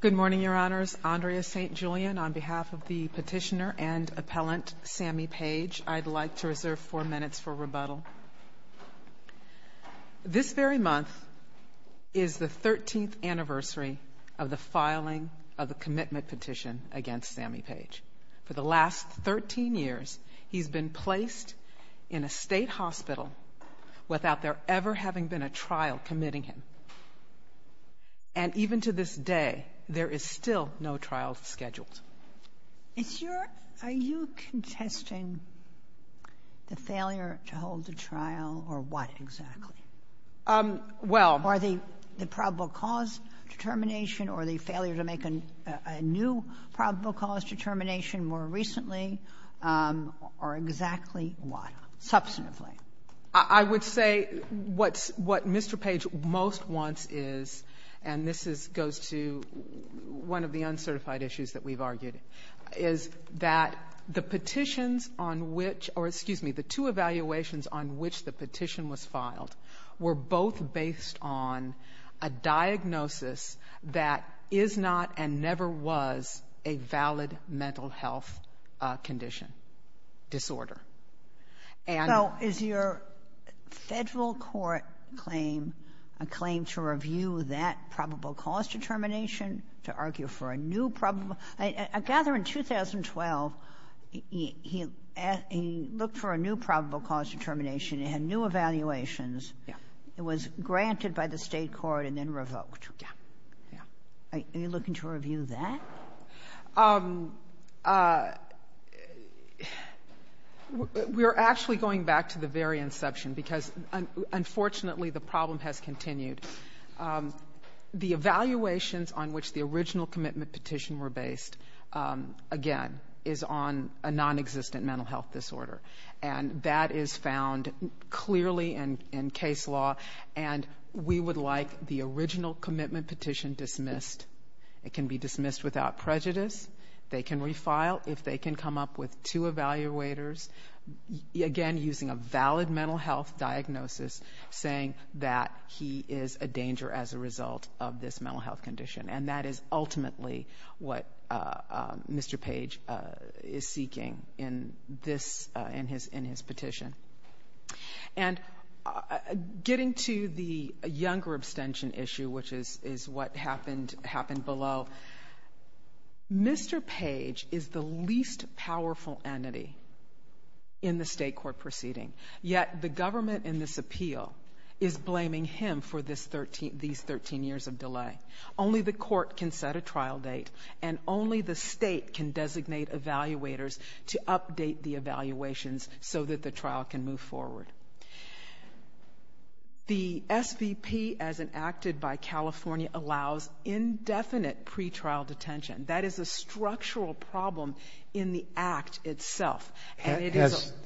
Good morning, Your Honors. Andrea St. Julian, on behalf of the petitioner and appellant Sammy Page, I'd like to reserve four minutes for rebuttal. This very month is the thirteenth anniversary of the filing of the commitment petition against Sammy Page. For the last thirteen years, he's been placed in a state hospital without there ever having been a trial committing him. And even to this day, there is still no trial scheduled. Are you contesting the failure to hold the trial or what exactly? Well... Or the probable cause determination or the failure to make a new probable cause determination more recently, or exactly what, substantively? I would say what Mr. Page most wants is, and this goes to one of the uncertified issues that we've argued, is that the petitions on which or, excuse me, the two evaluations on which the petition was filed were both based on a diagnosis that is not and never was a valid mental health condition, disorder. So is your federal court claim a claim to review that probable cause determination, to argue for a new probable? I gather in 2012, he looked for a new probable cause determination. It had new evaluations. It was granted by the state court and then revoked. Yeah. Are you looking to review that? We're actually going back to the very inception because, unfortunately, the problem has continued. The evaluations on which the original commitment petition were based, again, is on a non-existent mental health disorder. And that is found clearly in case law. And we would like the original commitment petition dismissed. It can be dismissed without prejudice. They can refile if they can come up with two evaluators, again, using a valid mental health diagnosis, saying that he is a danger as a result of this mental health condition. And that is ultimately what Mr. Page is seeking in his petition. And getting to the younger abstention issue, which is what happened below, Mr. Page is the least powerful entity in the state court proceeding, yet the government in this appeal is blaming him for these 13 years of delay. Only the court can set a trial date and only the state can designate evaluators to update the evaluations so that the trial can move forward. The SVP, as enacted by California, allows indefinite pre-trial detention. That is a structural problem in the act itself. Has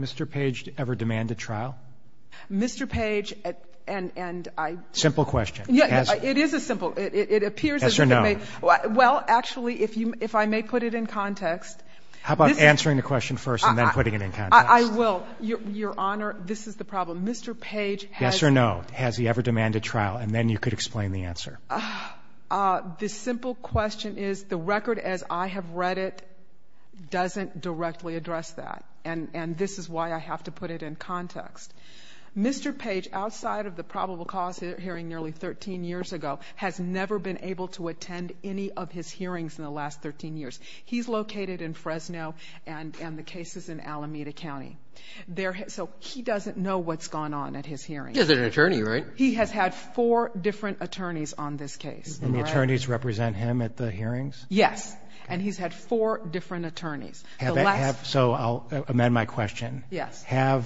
Mr. Page ever demanded trial? Mr. Page and I Simple question. Yeah, it is a simple. It appears Yes or no. Well, actually, if I may put it in context How about answering the question first and then putting it in context? I will. Your Honor, this is the problem. Mr. Page has Yes or no. Has he ever demanded trial? And then you could explain the answer. The simple question is the record as I have read it doesn't directly address that. And this is why I have to put it in context. Mr. Page, outside of the probable cause hearing nearly 13 years ago, has never been able to attend any of his hearings in the last 13 years. He's located in Fresno and the cases in Alameda County. So he doesn't know what's gone on at his hearing. He is an attorney, right? He has had four different attorneys on this case. And the attorneys represent him at the hearings? Yes. And he's had four different attorneys. So I'll amend my question. Yes. Has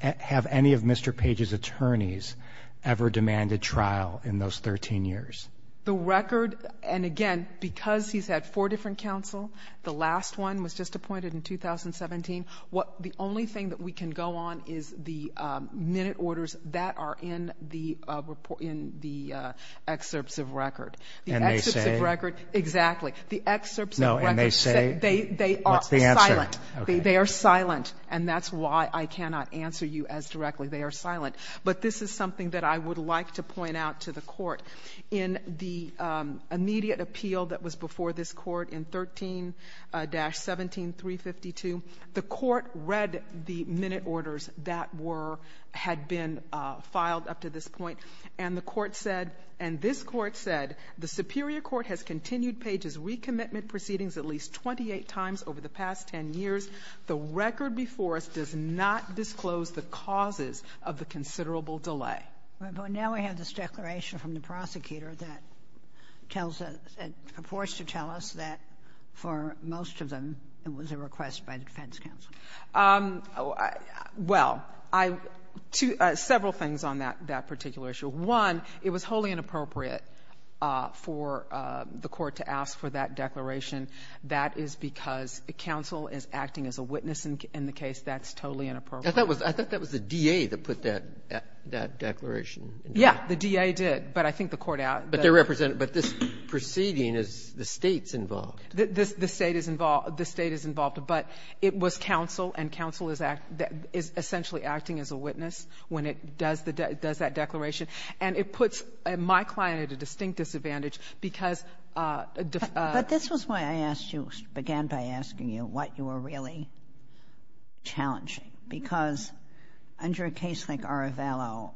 have any of Mr. Page's attorneys ever demanded trial in those 13 years? The record. And again, because he's had four different counsel, the last one was just appointed in 2017. What the only thing that we can go on is the minute orders that are in the report in the excerpts of record. And they say Record. Exactly. The excerpts No. And they say They are silent. They are silent. And that's why I cannot answer you as directly. They are silent. But this is something that I would like to point out to the Court. In the immediate appeal that was before this Court in 13-17352, the Court read the minute orders that were, had been filed up to this point. And the Court said, and this Court said, the Superior Court has continued Page's recommitment proceedings at least 28 times over the past 10 years. The record before us does not disclose the causes of the considerable delay. But now we have this declaration from the prosecutor that tells us, that purports to tell us that for most of them, it was a request by the defense counsel. Well, I, two, several things on that particular issue. One, it was wholly inappropriate for the Court to ask for that declaration. That is because counsel is acting as a witness in the case. That's totally inappropriate. I thought that was the DA that put that declaration in there. Yeah. The DA did. But I think the Court asked. But this proceeding is, the State's involved. The State is involved. The State is involved. But it was counsel, and counsel is essentially acting as a witness when it does that declaration. And it puts, my client at a distinct disadvantage because of the ---- But this was why I asked you, began by asking you, what you were really challenging. Because under a case like Arevalo,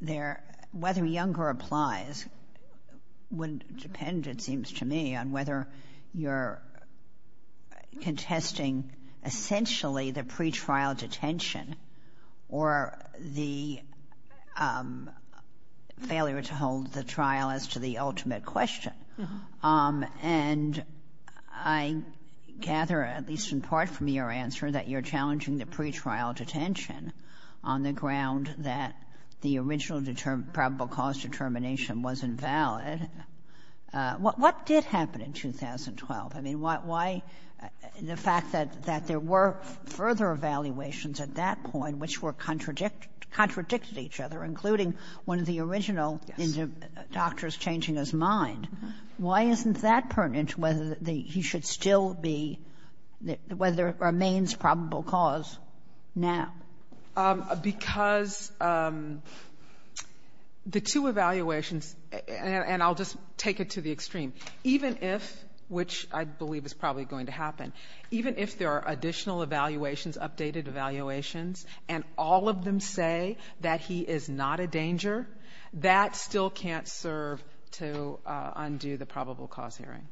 there, whether Younger applies wouldn't depend, it seems to me, on whether you're contesting essentially the pretrial detention or the failure to hold the trial as to the ultimate question. And I gather, at least in part from your answer, that you're challenging the pretrial detention on the ground that the original probable cause determination was invalid. What did happen in 2012? I mean, why the fact that there were further evaluations at that point which were contradictory to each other, including one of the original doctors changing his mind, why isn't that pertinent to whether he should still be the ---- whether it remains probable cause now? Because the two evaluations, and I'll just take it to the extreme. Even if ---- which I believe is probably going to happen. Even if there are additional evaluations, updated evaluations, and all of them say that he is not a danger, that still can't serve to undo the probable cause hearing.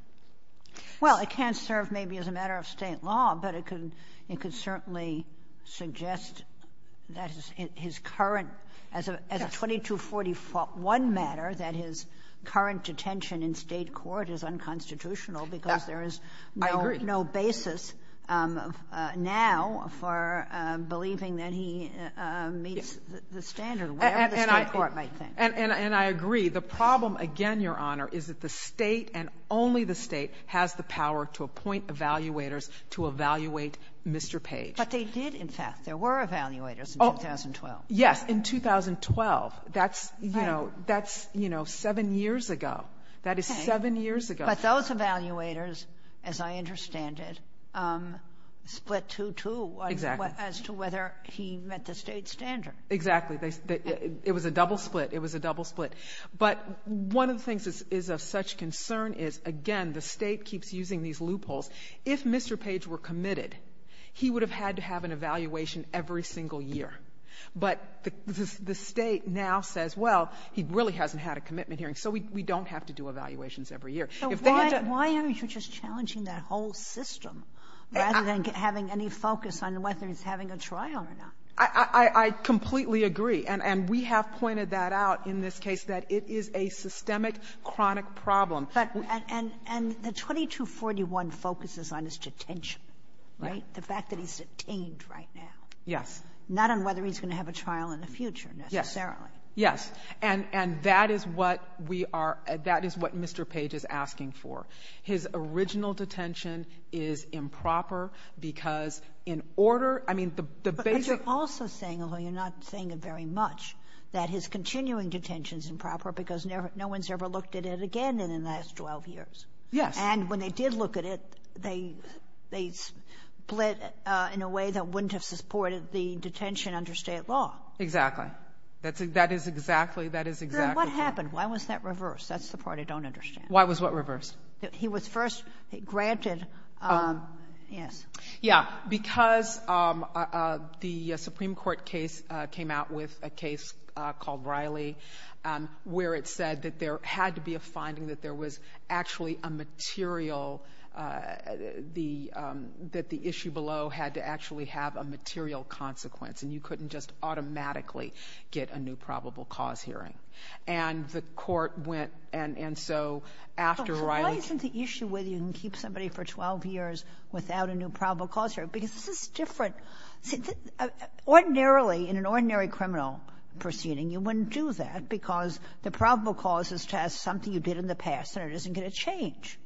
Well, it can't serve maybe as a matter of State law, but it could certainly suggest that his current, as a 2241 matter, that his current detention in State court is unconstitutional because there is no basis now for believing that he meets the standard, whatever the State court might think. And I agree. The problem, again, Your Honor, is that the State and only the State has the power to appoint evaluators to evaluate Mr. Page. But they did, in fact. There were evaluators in 2012. Yes, in 2012. That's, you know, that's, you know, seven years ago. That is seven years ago. But those evaluators, as I understand it, split two-two as to whether he met the State standard. Exactly. It was a double split. It was a double split. But one of the things that is of such concern is, again, the State keeps using these loopholes. If Mr. Page were committed, he would have had to have an evaluation every single year. But the State now says, well, he really hasn't had a commitment hearing, so we don't have to do evaluations every year. So why aren't you just challenging that whole system rather than having any focus on whether he's having a trial or not? I completely agree. And we have pointed that out in this case, that it is a systemic, chronic problem. But the 2241 focuses on his detention, right? The fact that he's detained right now. Yes. Not on whether he's going to have a trial in the future, necessarily. Yes. And that is what we are — that is what Mr. Page is asking for. His original detention is improper because in order — I mean, the basic — But you're also saying, although you're not saying it very much, that his continuing detention is improper because no one's ever looked at it again in the last 12 years. Yes. And when they did look at it, they split in a way that wouldn't have supported the detention under State law. Exactly. That is exactly — that is exactly — Then what happened? Why was that reversed? That's the part I don't understand. Why was what reversed? He was first granted — yes. Yeah. Because the Supreme Court case came out with a case called Riley where it said that there had to be a finding that there was actually a material — that the issue below had to actually have a material consequence. And you couldn't just automatically get a new probable cause hearing. And the court went — and so after Riley — But why isn't the issue whether you can keep somebody for 12 years without a new probable cause hearing? Because this is different — ordinarily, in an ordinary criminal proceeding, you wouldn't do that because the probable cause is to have something you did in the past, and it isn't going to change.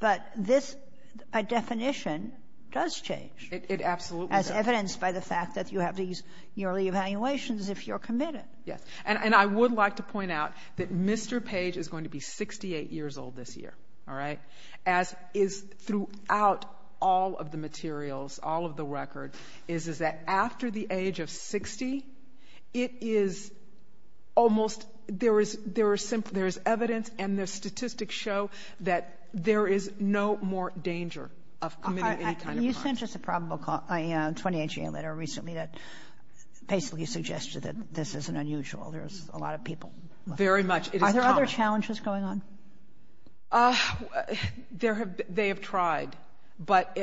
But this — a definition does change. It absolutely does. As evidenced by the fact that you have these yearly evaluations if you're committed. Yes. And I would like to point out that Mr. Page is going to be 68 years old this year, all right? As is throughout all of the materials, all of the record, is that after the age of 60, it is almost — there is evidence and the statistics show that there is no more danger of committing any kind of crime. You sent us a probable cause — a 2018 letter recently that basically suggested that this isn't unusual. There's a lot of people. Very much. It is common. Are there other challenges going on? There have — they have tried. But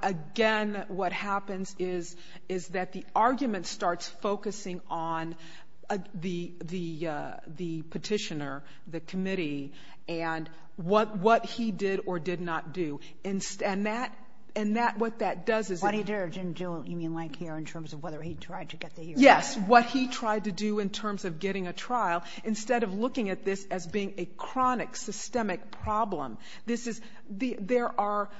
again, what happens is, is that the argument starts focusing on the petitioner, the committee, and what he did or did not do. And that — and that — what that does is — What he did or didn't do, you mean like here in terms of whether he tried to get the — Yes. What he tried to do in terms of getting a trial instead of looking at this as being a chronic systemic problem. This is — there are —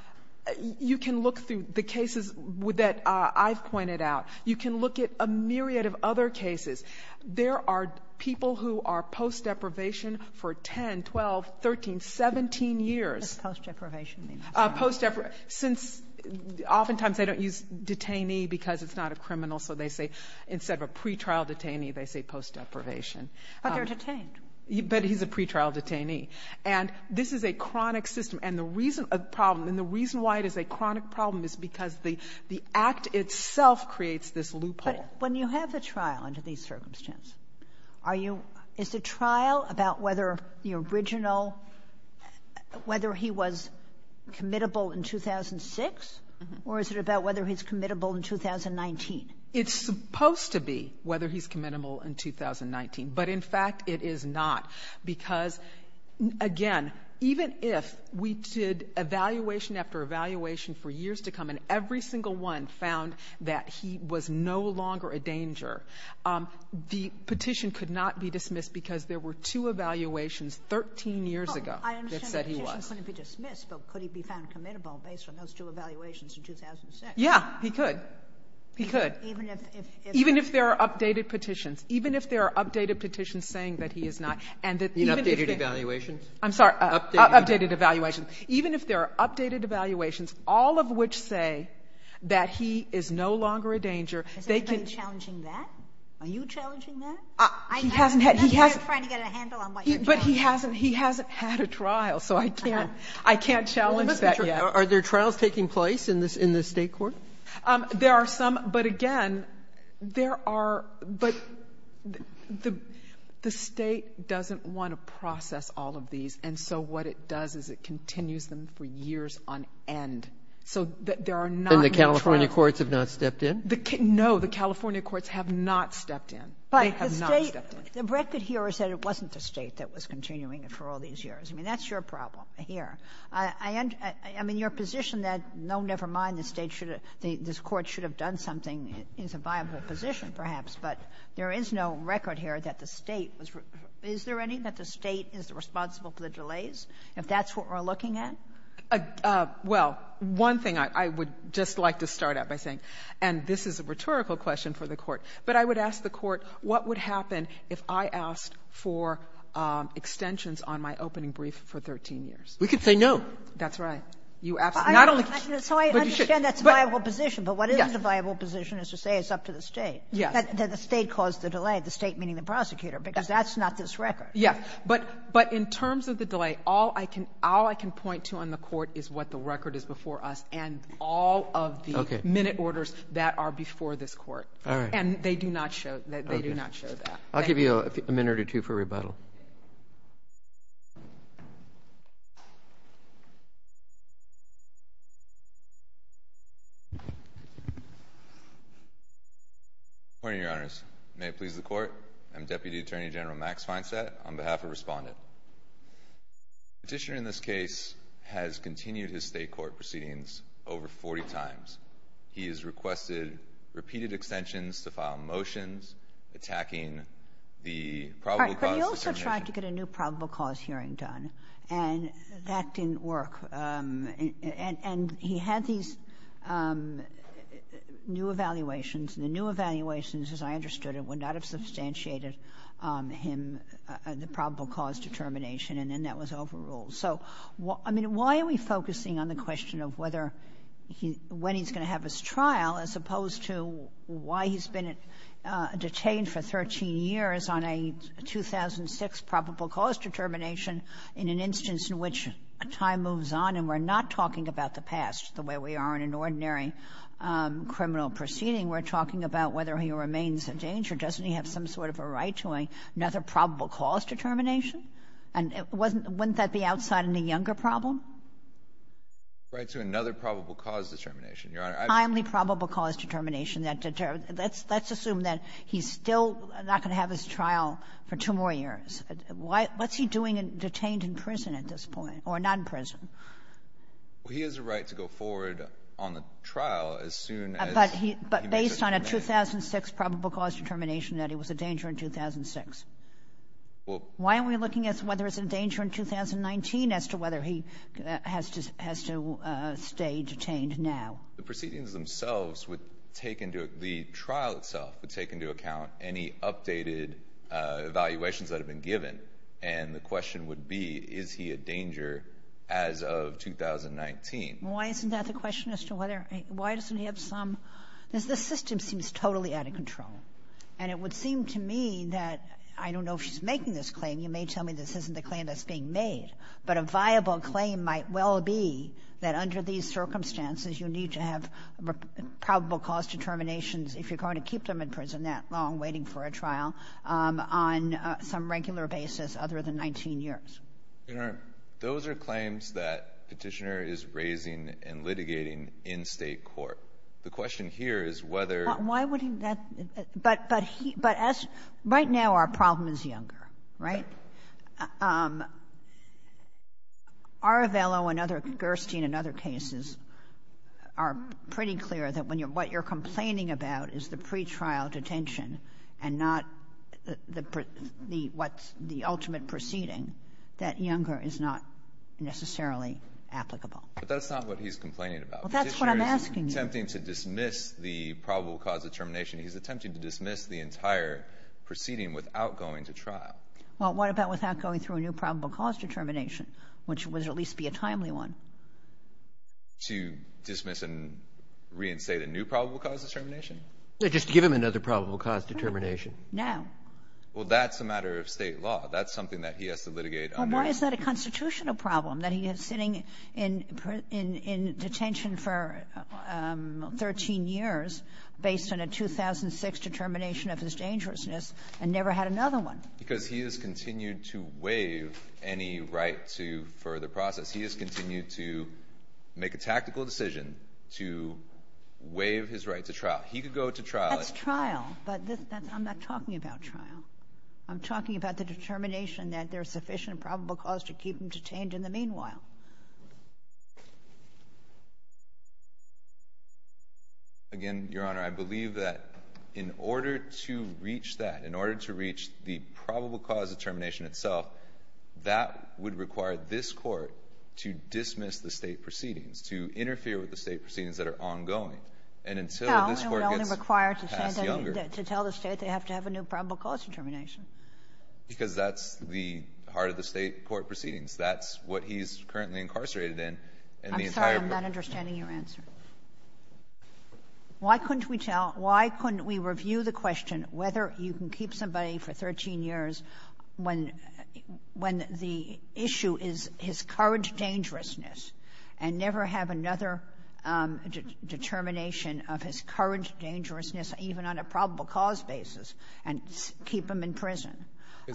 you can look through the cases that I've pointed out. You can look at a myriad of other cases. There are people who are post-deprivation for 10, 12, 13, 17 years. What does post-deprivation mean? Post-deprivation — since oftentimes they don't use detainee because it's not a criminal. So they say instead of a pretrial detainee, they say post-deprivation. But they're detained. But he's a pretrial detainee. And this is a chronic system. And the reason — a problem — and the reason why it is a chronic problem is because the act itself creates this loophole. But when you have the trial under these circumstances, are you — is the trial about whether the original — whether he was committable in 2006? Or is it about whether he's committable in 2019? It's supposed to be whether he's committable in 2019. But in fact, it is not. Because, again, even if we did evaluation after evaluation for years to come and every single one found that he was no longer a danger, the petition could not be dismissed because there were two evaluations 13 years ago that said he was. Well, I understand the petition couldn't be dismissed, but could he be found committable based on those two evaluations in 2006? Yeah, he could. He could. Even if — Even if there are updated petitions. Even if there are updated petitions saying that he is not, and that even if — You mean updated evaluations? I'm sorry. Updated evaluations. Updated evaluations. Even if there are updated evaluations, all of which say that he is no longer a danger, they can — Is anybody challenging that? Are you challenging that? He hasn't had — I'm not trying to get a handle on what you're doing. But he hasn't had a trial, so I can't challenge that yet. Are there trials taking place in the state court? There are some, but again, there are — but the state doesn't want to process all of these, and so what it does is it continues them for years on end. So there are not — And the California courts have not stepped in? No, the California courts have not stepped in. They have not stepped in. But the state — the record here is that it wasn't the state that was continuing it for all these years. I mean, that's your problem here. I am in your position that no, never mind, the state should have — this court should have done something. It's a viable position, perhaps. But there is no record here that the state was — is there any that the state is responsible for the delays, if that's what we're looking at? Well, one thing I would just like to start out by saying, and this is a rhetorical question for the court, but I would ask the court, what would happen if I asked for extensions on my opening brief for 13 years? We could say no. That's right. You absolutely — So I understand that's a viable position, but what is a viable position is to say it's up to the state. Yes. That the state caused the delay, the state meaning the prosecutor, because that's not this record. Yes. But in terms of the delay, all I can point to on the court is what the record is before And all of the minute orders that are before this court. All right. And they do not show — they do not show that. I'll give you a minute or two for rebuttal. Good morning, Your Honors. May it please the court, I'm Deputy Attorney General Max Feinstadt on behalf of Respondent. The petitioner in this case has continued his state court proceedings over 40 times. He has requested repeated extensions to file motions attacking the probable cause — All right. But he also tried to get a new probable cause hearing done, and that didn't work. And he had these new evaluations, and the new evaluations, as I understood it, would not have substantiated him — the probable cause determination, and then that was overruled. So, I mean, why are we focusing on the question of whether he — when he's going to have his trial as opposed to why he's been detained for 13 years on a 2006 probable cause determination in an instance in which time moves on, and we're not talking about the past the way we are in an ordinary criminal proceeding. We're talking about whether he remains in danger. Doesn't he have some sort of a right to another probable cause determination? And wasn't — wouldn't that be outside any younger problem? Right to another probable cause determination, Your Honor. Timely probable cause determination that — let's assume that he's still not going to have his trial for two more years. What's he doing detained in prison at this point, or not in prison? Well, he has a right to go forward on the trial as soon as — But based on a 2006 probable cause determination that he was a danger in 2006. Well — Why are we looking at whether it's a danger in 2019 as to whether he has to — has to stay detained now? The proceedings themselves would take into — the trial itself would take into account any updated evaluations that have been given, and the question would be, is he a danger as of 2019? Why isn't that the question as to whether — why doesn't he have some — Because the system seems totally out of control. And it would seem to me that — I don't know if she's making this claim. You may tell me this isn't the claim that's being made. But a viable claim might well be that under these circumstances, you need to have probable cause determinations, if you're going to keep them in prison that long, waiting for a trial, on some regular basis other than 19 years. Your Honor, those are claims that Petitioner is raising and litigating in state court. The question here is whether — Why wouldn't that — but — but he — but as — right now, our problem is younger, right? Arevelo and other — Gerstein and other cases are pretty clear that when you're — what you're complaining about is the pretrial detention and not the — what's the ultimate proceeding, that younger is not necessarily applicable. But that's not what he's complaining about. Well, that's what I'm asking you. Petitioner is attempting to dismiss the probable cause determination. He's attempting to dismiss the entire proceeding without going to trial. Well, what about without going through a new probable cause determination, which would at least be a timely one? To dismiss and reinstate a new probable cause determination? No, just to give him another probable cause determination. Now. Well, that's a matter of state law. That's something that he has to litigate — Well, why is that a constitutional problem, that he is sitting in — in detention for 13 years based on a 2006 determination of his dangerousness and never had another one? Because he has continued to waive any right to further process. He has continued to make a tactical decision to waive his right to trial. He could go to trial — That's trial. But that's — I'm not talking about trial. I'm talking about the determination that there's sufficient probable cause to keep him detained in the meanwhile. Again, Your Honor, I believe that in order to reach that, in order to reach the probable cause determination itself, that would require this Court to dismiss the state proceedings, to interfere with the state proceedings that are ongoing. And until this Court gets passed younger — Well, it would only require to tell the state they have to have a new probable cause determination. Because that's the heart of the state court proceedings. That's what he's currently incarcerated in in the entire — I'm sorry. I'm not understanding your answer. Why couldn't we tell — why couldn't we review the question whether you can keep somebody for 13 years when — when the issue is his current dangerousness and never have another determination of his current dangerousness even on a probable cause basis and keep him in prison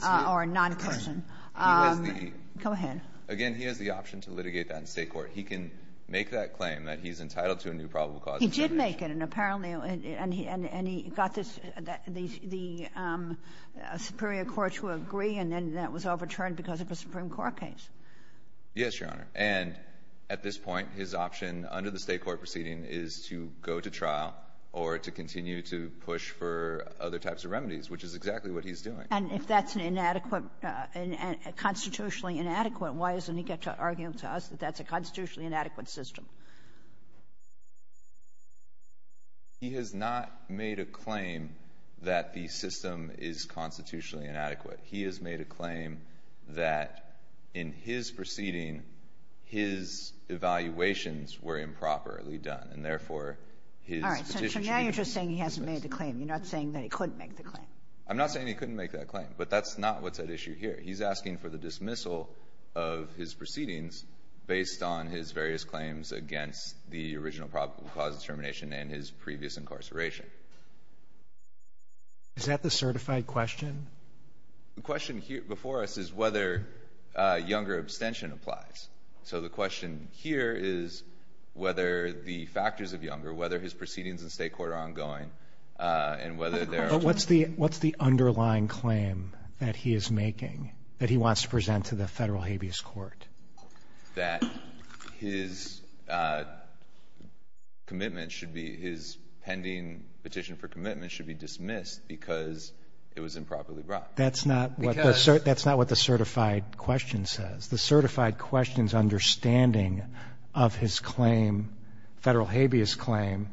or non-prison? He was the — Go ahead. Again, he has the option to litigate that in state court. He can make that claim that he's entitled to a new probable cause determination. He did make it. And apparently — and he got this — the superior court to agree, Yes, Your Honor. And at this point, his option under the state court proceeding is to go to trial or to continue to push for other types of remedies, which is exactly what he's doing. And if that's an inadequate — constitutionally inadequate, why doesn't he get to argue to us that that's a constitutionally inadequate system? He has not made a claim that the system is constitutionally inadequate. He has made a claim that in his proceeding, his evaluations were improperly done, and therefore his petition should be dismissed. All right. So now you're just saying he hasn't made the claim. You're not saying that he couldn't make the claim. I'm not saying he couldn't make that claim, but that's not what's at issue here. He's asking for the dismissal of his proceedings based on his various claims against the original probable cause determination and his previous incarceration. Is that the certified question? The question before us is whether younger abstention applies. So the question here is whether the factors of younger, whether his proceedings in state court are ongoing, and whether there are — But what's the underlying claim that he is making, that he wants to present to the federal habeas court? That his commitment should be — his pending petition for commitment should be dismissed because it was improperly brought. That's not what the certified question says. The certified question's understanding of his claim, federal habeas claim,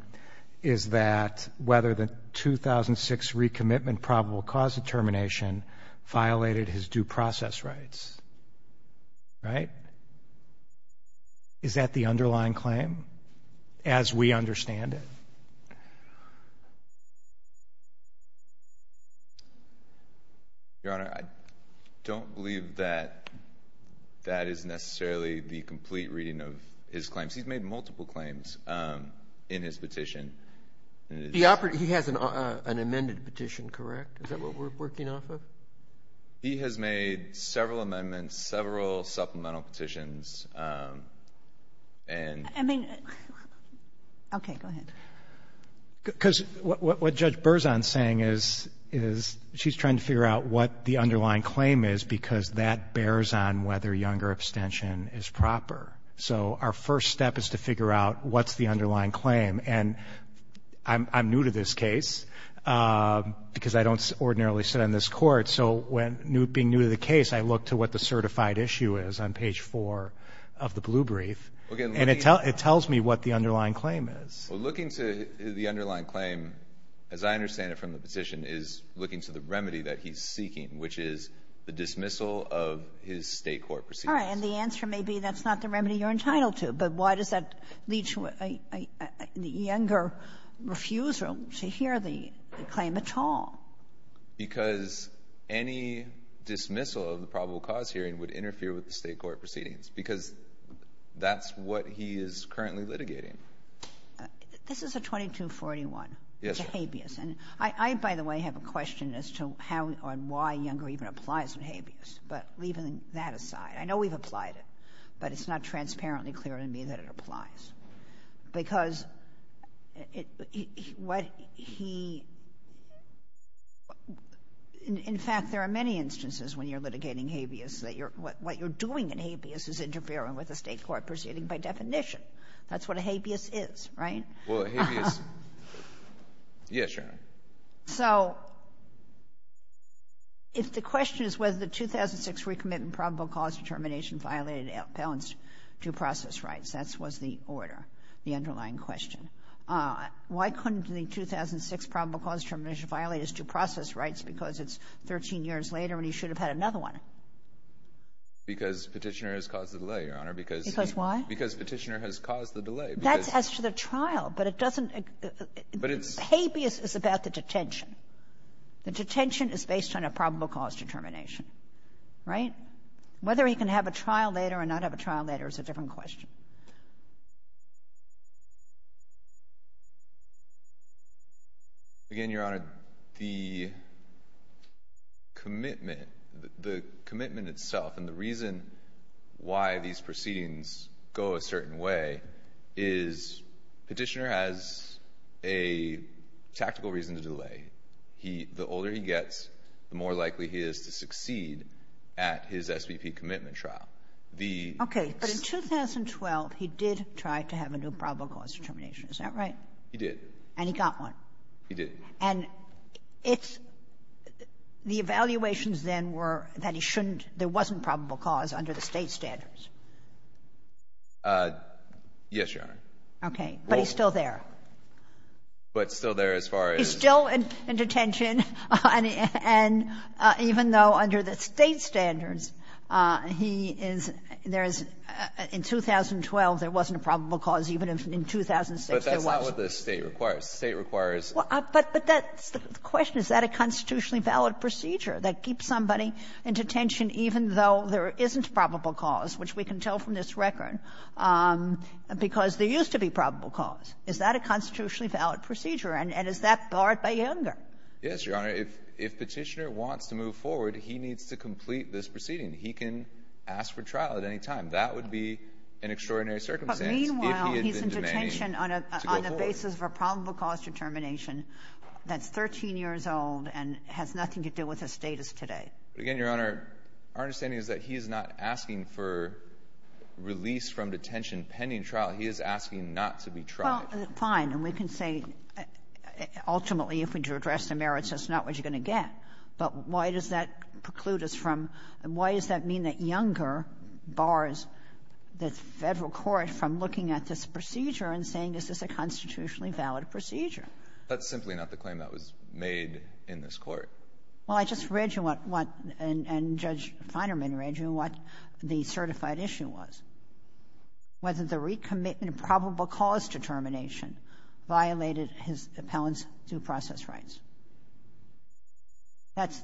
is that whether the 2006 recommitment probable cause determination violated his due process rights. Right? Is that the underlying claim, as we understand it? Yes. Your Honor, I don't believe that that is necessarily the complete reading of his claims. He's made multiple claims in his petition. He has an amended petition, correct? Is that what we're working off of? He has made several amendments, several supplemental petitions, and — I mean — OK, go ahead. Because what Judge Berzon's saying is she's trying to figure out what the underlying claim is because that bears on whether younger abstention is proper. So our first step is to figure out what's the underlying claim. And I'm new to this case because I don't ordinarily sit on this Court. So being new to the case, I look to what the certified issue is on page 4 of the blue brief. And it tells me what the underlying claim is. Well, looking to the underlying claim, as I understand it from the petition, is looking to the remedy that he's seeking, which is the dismissal of his State court proceedings. All right. And the answer may be that's not the remedy you're entitled to. But why does that lead to a younger refusal to hear the claim at all? Because any dismissal of the probable cause hearing would interfere with the State court proceedings. Because that's what he is currently litigating. This is a 2241. Yes, ma'am. It's a habeas. And I, by the way, have a question as to how and why younger even applies in habeas. But leaving that aside, I know we've applied it. But it's not transparently clear to me that it applies. Because what he — in fact, there are many instances when you're litigating habeas that what you're doing in habeas is interfering with a State court proceeding by definition. That's what a habeas is, right? Well, a habeas — yes, Your Honor. So if the question is whether the 2006 recommitment probable cause determination violated Appellant's due process rights, that was the order, the underlying question. Why couldn't the 2006 probable cause determination violate his due process rights because it's 13 years later and he should have had another one? Because Petitioner has caused the delay, Your Honor. Because why? Because Petitioner has caused the delay. That's as to the trial. But it doesn't — But it's — Habeas is about the detention. The detention is based on a probable cause determination. Right? Whether he can have a trial later or not have a trial later is a different question. Again, Your Honor, the commitment, the commitment itself and the reason why these proceedings go a certain way is Petitioner has a tactical reason to delay. The older he gets, the more likely he is to succeed at his SBP commitment trial. The — But in 2012, Petitioner said, well, he did try to have a new probable cause determination. Is that right? He did. And he got one. He did. And it's — the evaluations then were that he shouldn't — there wasn't probable cause under the State standards. Yes, Your Honor. Okay. But he's still there. But still there as far as — He's still in detention. And even though under the State standards, he is — there is — in 2012, there wasn't a probable cause, even if in 2006 there was. But that's not what the State requires. The State requires — But that's the question. Is that a constitutionally valid procedure, that keeps somebody in detention even though there isn't probable cause, which we can tell from this record, because there used to be probable cause? Is that a constitutionally valid procedure? And is that barred by Younger? Yes, Your Honor. If Petitioner wants to move forward, he needs to complete this proceeding. He can ask for trial at any time. That would be an extraordinary circumstance if he had been demanding to go forward. But meanwhile, he's in detention on a basis of a probable cause determination that's 13 years old and has nothing to do with his status today. Again, Your Honor, our understanding is that he is not asking for release from detention pending trial. He is asking not to be tried. Well, fine. And we can say, ultimately, if we do address the merits, that's not what you're going to get. But why does that preclude us from — why does that mean that Younger bars the Federal Court from looking at this procedure and saying, is this a constitutionally valid procedure? That's simply not the claim that was made in this Court. Well, I just read you what — and Judge Feinerman read you what the certified issue was. Was it the recommitment of probable cause determination violated his appellant's due process rights?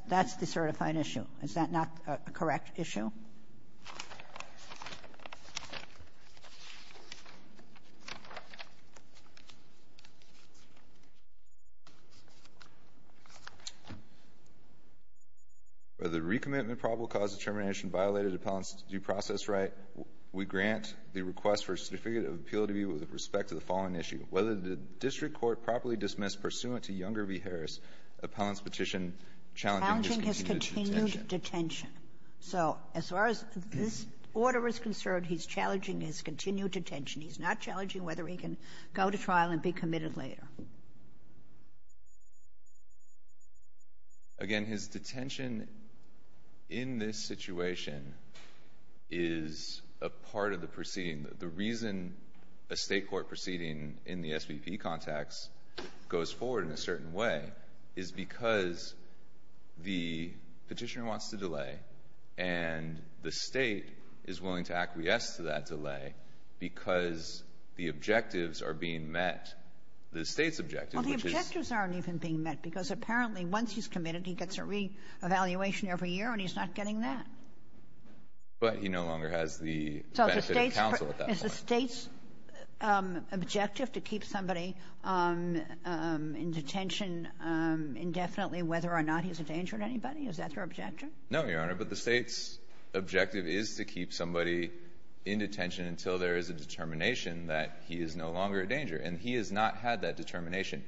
That's the certified issue. Is that not a correct issue? Whether the recommitment of probable cause determination violated the appellant's due process right, we grant the request for a certificate of appeal to be with respect to the following issue. Whether the district court properly dismissed pursuant to Younger v. Harris, appellant's petition challenging his continued detention. Challenging his continued detention. So as far as this order is concerned, he's challenging his continued detention. He's not challenging whether he can go to trial and be committed later. Again, his detention in this situation is a part of the proceeding. The reason a state court proceeding in the SBP context goes forward in a certain way is because the petitioner wants to delay and the state is willing to acquiesce to that delay because the objectives are being met. The state's objective, which is... Well, the objectives aren't even being met because apparently once he's committed, he gets a reevaluation every year and he's not getting that. But he no longer has the benefit of counsel at that point. So is the state's objective to keep somebody in detention indefinitely whether or not he's a danger to anybody? Is that their objective? No, Your Honor, but the state's objective is to keep somebody in detention until there is a determination that he is no longer a danger. And he has not had that determination.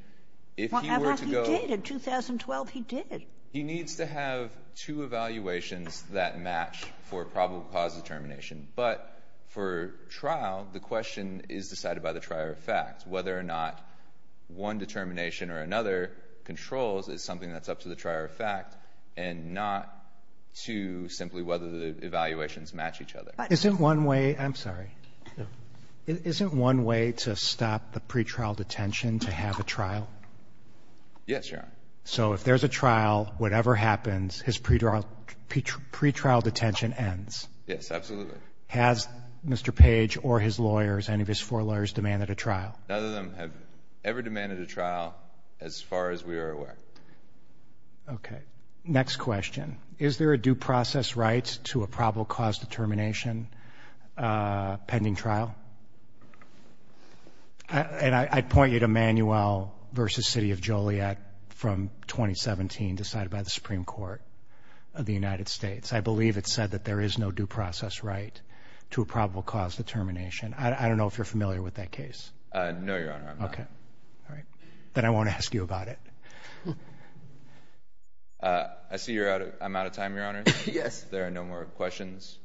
If he were to go... Well, in 2012, he did. He needs to have two evaluations that match for probable cause determination. But for trial, the question is decided by the trier of fact, whether or not one determination or another controls is something that's up to the trier of fact and not to simply whether the evaluations match each other. Isn't one way... I'm sorry. No. Isn't one way to stop the pretrial detention to have a trial? Yes, Your Honor. So if there's a trial, whatever happens, his pretrial detention ends? Yes, absolutely. Has Mr. Page or his lawyers, any of his four lawyers, demanded a trial? None of them have ever demanded a trial as far as we are aware. Okay. Next question. Is there a due process right to a probable cause determination pending trial? And I'd point you to Manuel v. City of Joliet from 2017, decided by the Supreme Court of the United States. I believe it said that there is no due process right to a probable cause determination. I don't know if you're familiar with that case. No, Your Honor, I'm not. Okay. All right. Then I won't ask you about it. I see I'm out of time, Your Honor. Yes. There are no more questions.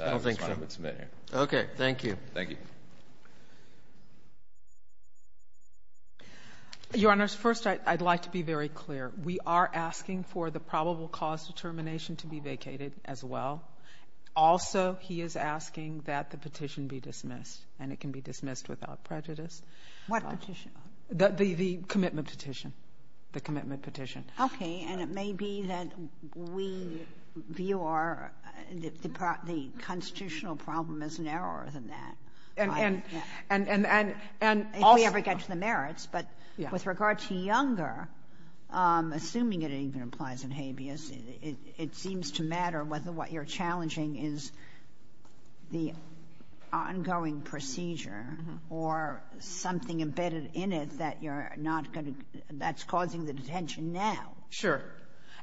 I don't think so. I just want to submit here. Okay. Thank you. Thank you. Your Honors, first, I'd like to be very clear. We are asking for the probable cause determination to be vacated as well. Also, he is asking that the petition be dismissed, and it can be dismissed without prejudice. What petition? The commitment petition. The commitment petition. Okay. And it may be that we view the constitutional problem as narrower than that. And also— If we ever get to the merits. But with regard to Younger, assuming it even applies in habeas, it seems to matter whether what you're challenging is the ongoing procedure or something embedded in it that's causing the detention now. Sure.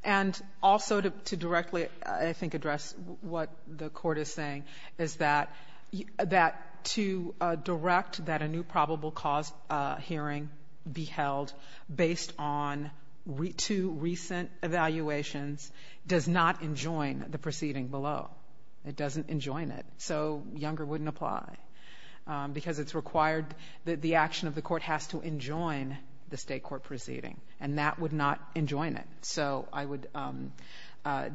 And also, to directly, I think, address what the Court is saying, is that to direct that a new probable cause hearing be held based on two recent evaluations does not enjoin the proceeding below. It doesn't enjoin it. So Younger wouldn't apply. Because it's required that the action of the Court has to enjoin the state court proceeding. And that would not enjoin it. So I would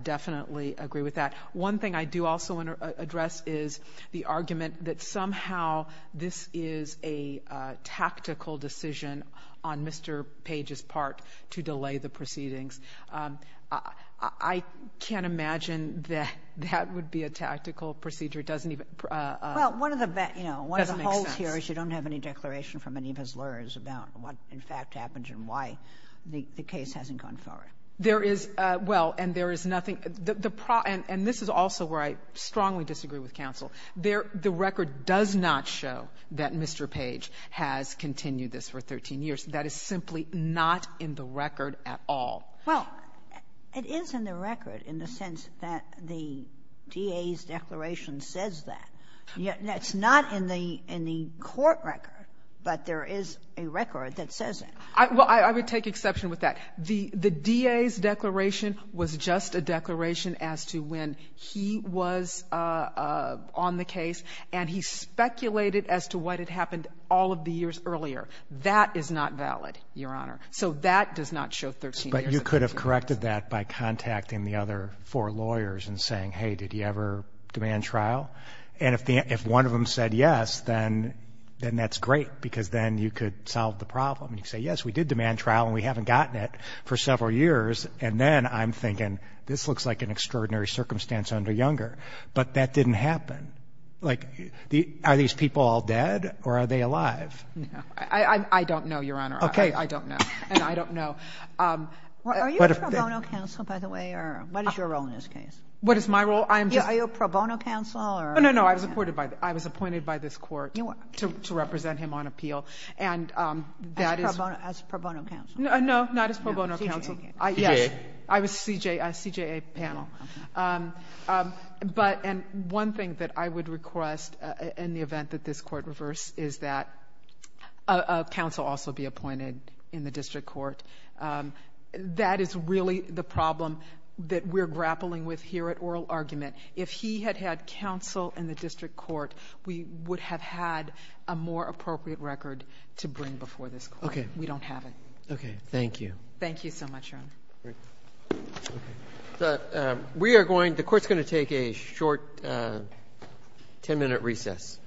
definitely agree with that. One thing I do also want to address is the argument that somehow this is a tactical decision on Mr. Page's part to delay the proceedings. I can't imagine that that would be a tactical procedure. It doesn't even— Well, one of the— It doesn't make sense. One of the holes here is you don't have any declaration from any of his lawyers about what, in fact, happened and why the case hasn't gone forward. There is—well, and there is nothing—and this is also where I strongly disagree with counsel. The record does not show that Mr. Page has continued this for 13 years. That is simply not in the record at all. Well, it is in the record in the sense that the DA's declaration says that. It's not in the court record, but there is a record that says it. Well, I would take exception with that. The DA's declaration was just a declaration as to when he was on the case, and he speculated as to what had happened all of the years earlier. That is not valid, Your Honor. So that does not show 13 years. But you could have corrected that by contacting the other four lawyers and saying, hey, did he ever demand trial? And if one of them said yes, then that's great because then you could solve the problem. You could say, yes, we did demand trial and we haven't gotten it for several years, and then I'm thinking this looks like an extraordinary circumstance under Younger. But that didn't happen. Like, are these people all dead or are they alive? No. I don't know, Your Honor. Okay. I don't know. And I don't know. Are you a pro bono counsel, by the way, or what is your role in this case? What is my role? I am just— No, no, no. I was appointed by this court to represent him on appeal, and that is— As pro bono counsel? No, not as pro bono counsel. CJA? Yes. I was a CJA panel. Okay. But—and one thing that I would request in the event that this court reverses is that a counsel also be appointed in the district court. That is really the problem that we're grappling with here at oral argument. If he had had counsel in the district court, we would have had a more appropriate record to bring before this court. Okay. We don't have it. Okay. Thank you. Thank you so much, Your Honor. Great. Okay. We are going—the court's going to take a short 10-minute recess.